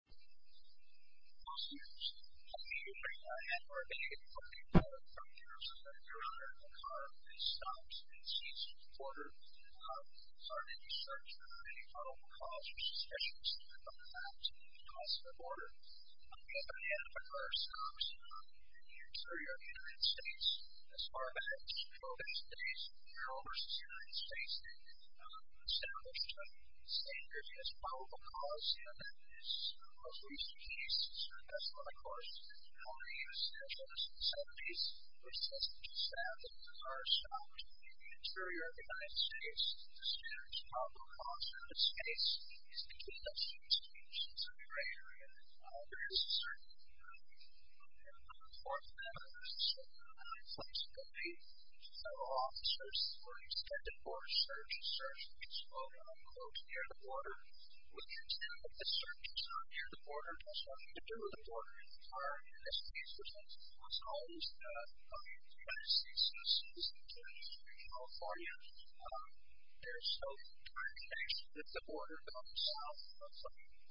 Law students, have you ever been able to find out in terms of the duration of a car that stops and ceases to order? Have you searched for any probable cause or suspicions about the cause of the order? Have you ever had a car stop in the interior of the United States? As far as I can tell, these days, Congress in the United States has established a safe business probable cause and I understand that this most recent case is the best one, of course. However, in the 1970s, there was no such fact that a car stopped in the interior of the United States. The standard probable cause for this case is between a few stations in your area. There is a certain number of reports that have been submitted by police and the police, and several officers were expected for a search and search to explode on a boat near the border. We understand that the search is not near the border. It has nothing to do with the border. In the entire United States, which has always been a part of the United States, this is the case in California, there is no documentation that the border goes south of something where there would be a U.S. current to enter the border. The industry needs to try to find out if the U.S. government should stop and let us know all about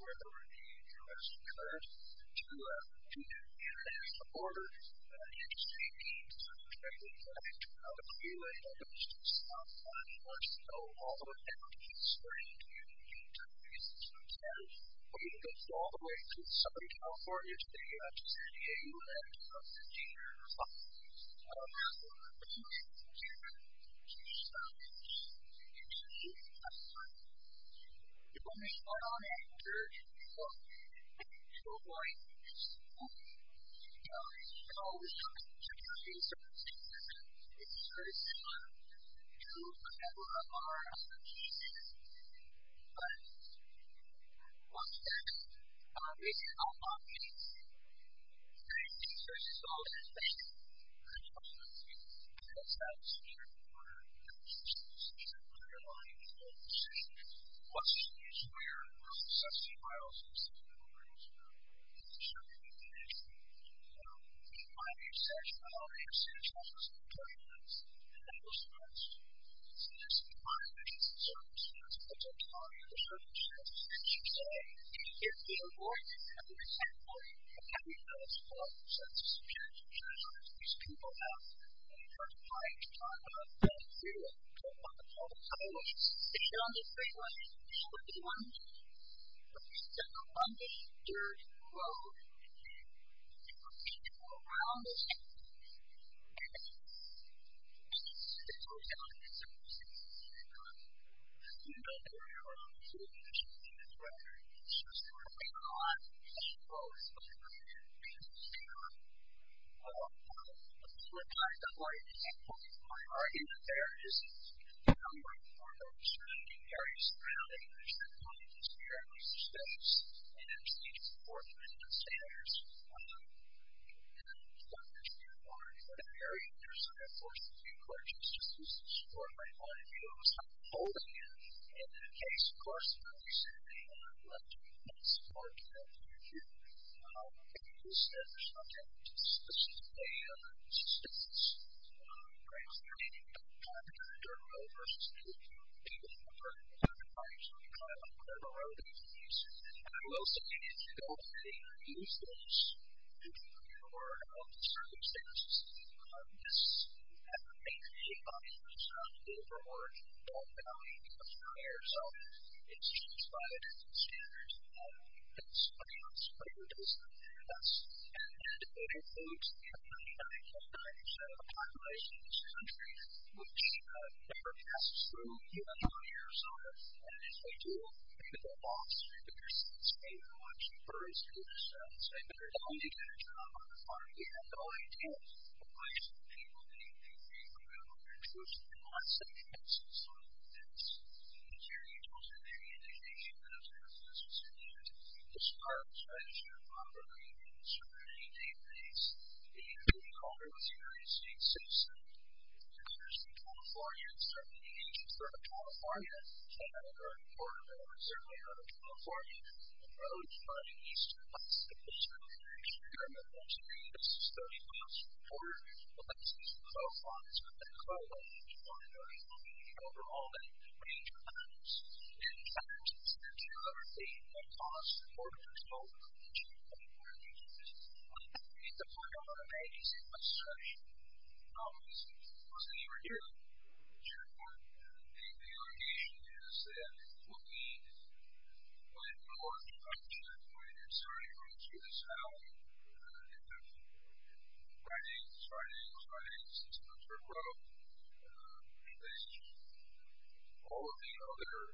it. It's strange. You need to face the truth. It goes all the way to Southern California today. I'm just saying that you have to come to the U.S. I don't know. I don't know. I don't know. I don't know. I don't know. I don't know. I don't know. I don't know. I don't know. I don't know. I don't know. Writing, writing, writing, system of turmoil. All of the other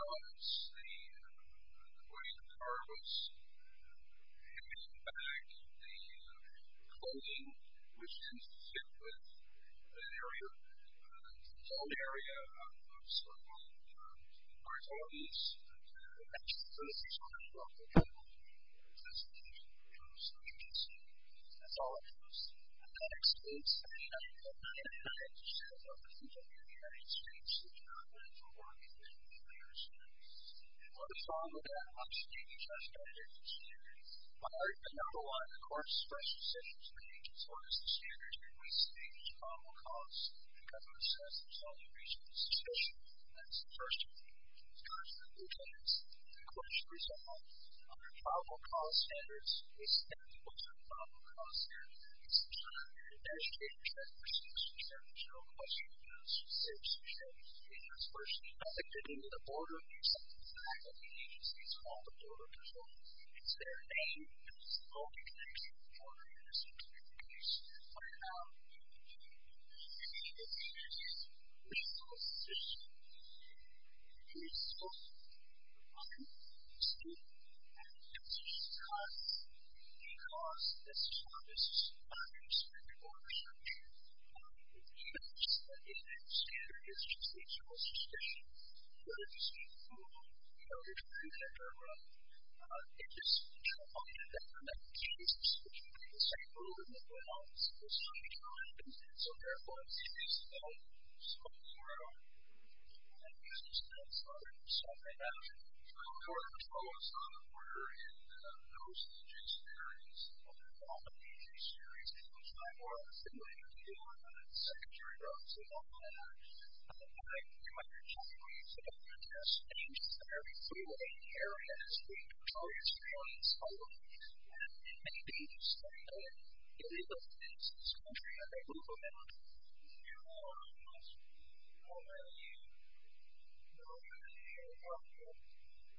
elements, the grain, the cargo, the shipping, the bags, the clothing, which intersect with the area, the home area of some of the authorities. All of the other elements, the grain, the cargo, the shipping, which intersect with the area, the home area of some of the authorities. The school, the money, the student, and the compensation costs. Because this is one of the most understandable approaches, even if the standard is just a school subscription, whether you speak fluently, you know, you're familiar with the program, it just, you know, all of the other medications, which would be the same rule in the law, it's the same time, so therefore, it's just, you know, So, for example, we're in the post-legislative areas, and we'll talk about the legislative areas in which I work, and later, we'll talk about the secretary of civil affairs. You might be shocked when you see that, but there's changes in every single area, and it's being controlled, it's failing, it's failing, and it may be just that we don't get rid of it, and it's this country that we live in. If you are a post-law graduate, you know, you're going to be involved in important style within the area, and it's not just going to be a school district, it's going to be a place of influence, you're going to be able to work with people that are kind of a settled community. And this is one of the areas I'll talk about, it's a lot more important than a school district, but it has a lot of important things that are going on in the area. One of the concerns that I was having when I was in college, when I was in college, is that the military administration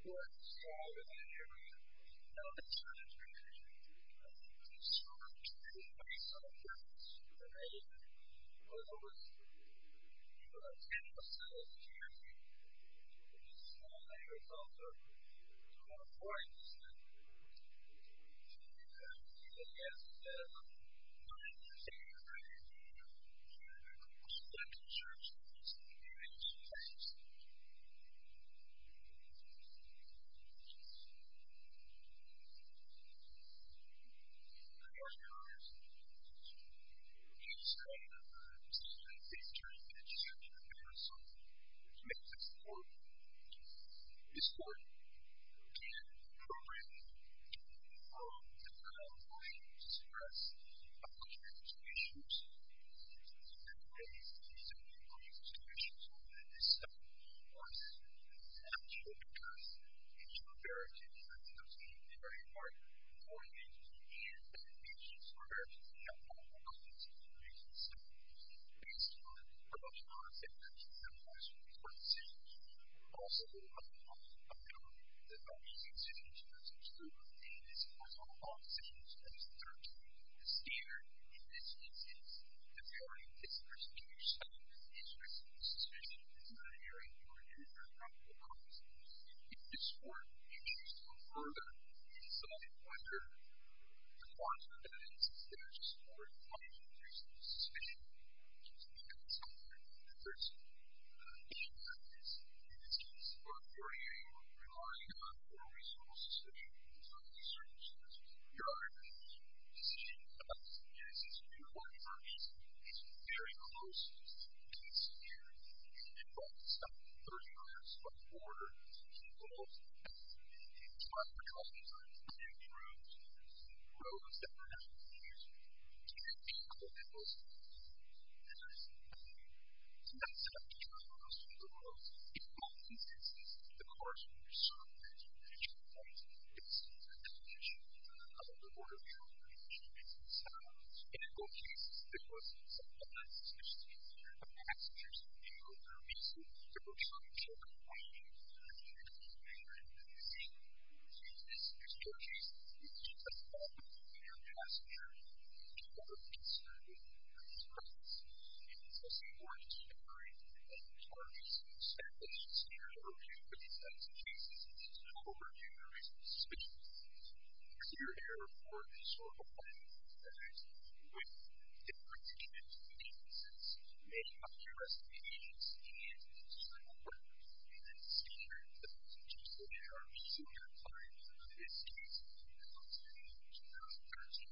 and the council makes this important. It's important, and appropriately, and I'm going to stress, a country that has issues, a country that has issues, a country that has issues, is something that works. And I'm sure it does, and it's imperative that those people that are important, and it's imperative that they have all the confidence that they need, and so, based on how much knowledge they have, and how much responsibility they have, and also the amount of knowledge that they're using in terms of school, and as a result of all the decisions that are being made at the standard, in this instance, the priority of this person in your study is risk and suspicion, and it's not an area where you're going to have a lot of risk and suspicion. It's important that you choose to go further, and so I wonder, the question then is, if there's a support, how do you reduce the suspicion to become a separate person? And that is, if it's going to support your area, you're relying on a more reasonable suspicion in terms of the circumstances. You're not going to make a decision about this, and it's going to be a one-term issue. It's very close to insecurity. You can be involved in stuff 30 miles from the border, involved in traffic accidents, or in community groups, in roads that are actually used to make vehicle vehicles. It's not something that's going to be close to the roads. In all instances, the cars that you're serving at a particular point, it's an indication of a border area that you should be concerned about. In both cases, it wasn't someone else's decision, but passengers, and for whatever reason, they were trying to check and find a vehicle that they were going to be using. So, in this case, you need the support of your passenger in order to be concerned with these problems. It's also important to carry a lot of charges especially if you're working with these types of cases. It's important to raise some suspicions. Consider a report that's reported that has information into the cases, may not address the issues, and it's important that you then see where you're at to determine how you're using your time in this case in 2013.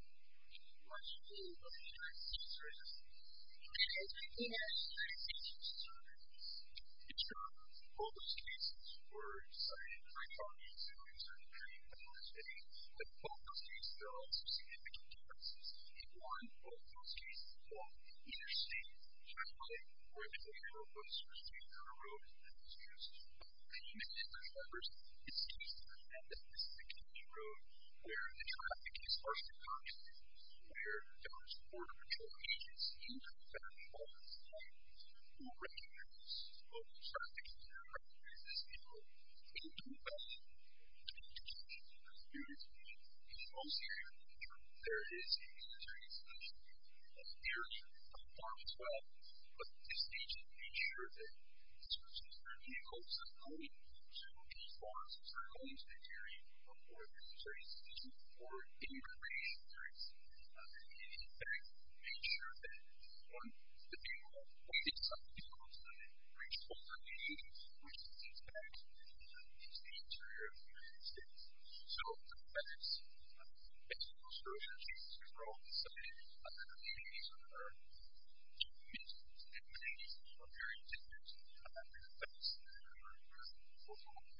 Once you do, what you're going to do is you're going to make sure that you have insurance. Most cases were decided by parties in 2013 and last May, but in both those cases there are also significant differences. In one of those cases, the law either states generally where the vehicle was received on the road and then was used by the community members, it states that that this is a community road where the traffic is partially congested, where there was border patrol agents in the back of all of the vehicles who recognized that this was a traffic issue and recognized that this vehicle didn't do well in terms of communication with the community. In most areas in the future, there is a military institution and there is a farm as well, but it states that you make sure that this person's third vehicle is not going to be far so it's not going to the area where there's a military institution or immigration where it's in effect. Make sure that when the vehicle leaves the site it's not going to reach all of the communities which it's in fact is the interior of the military institution. So, that is the basic construction changes for all of the sites other than the communities on the road. The communities on the road are very different in terms of how they're placed and how they're performing. And the point that Mr. Rowe had made back in May 7th about the area of war and the fact that there's no area of war in the military. We are in this historical law that is an issue that the military needs to enforce. And here I am in the United States versus Nevada.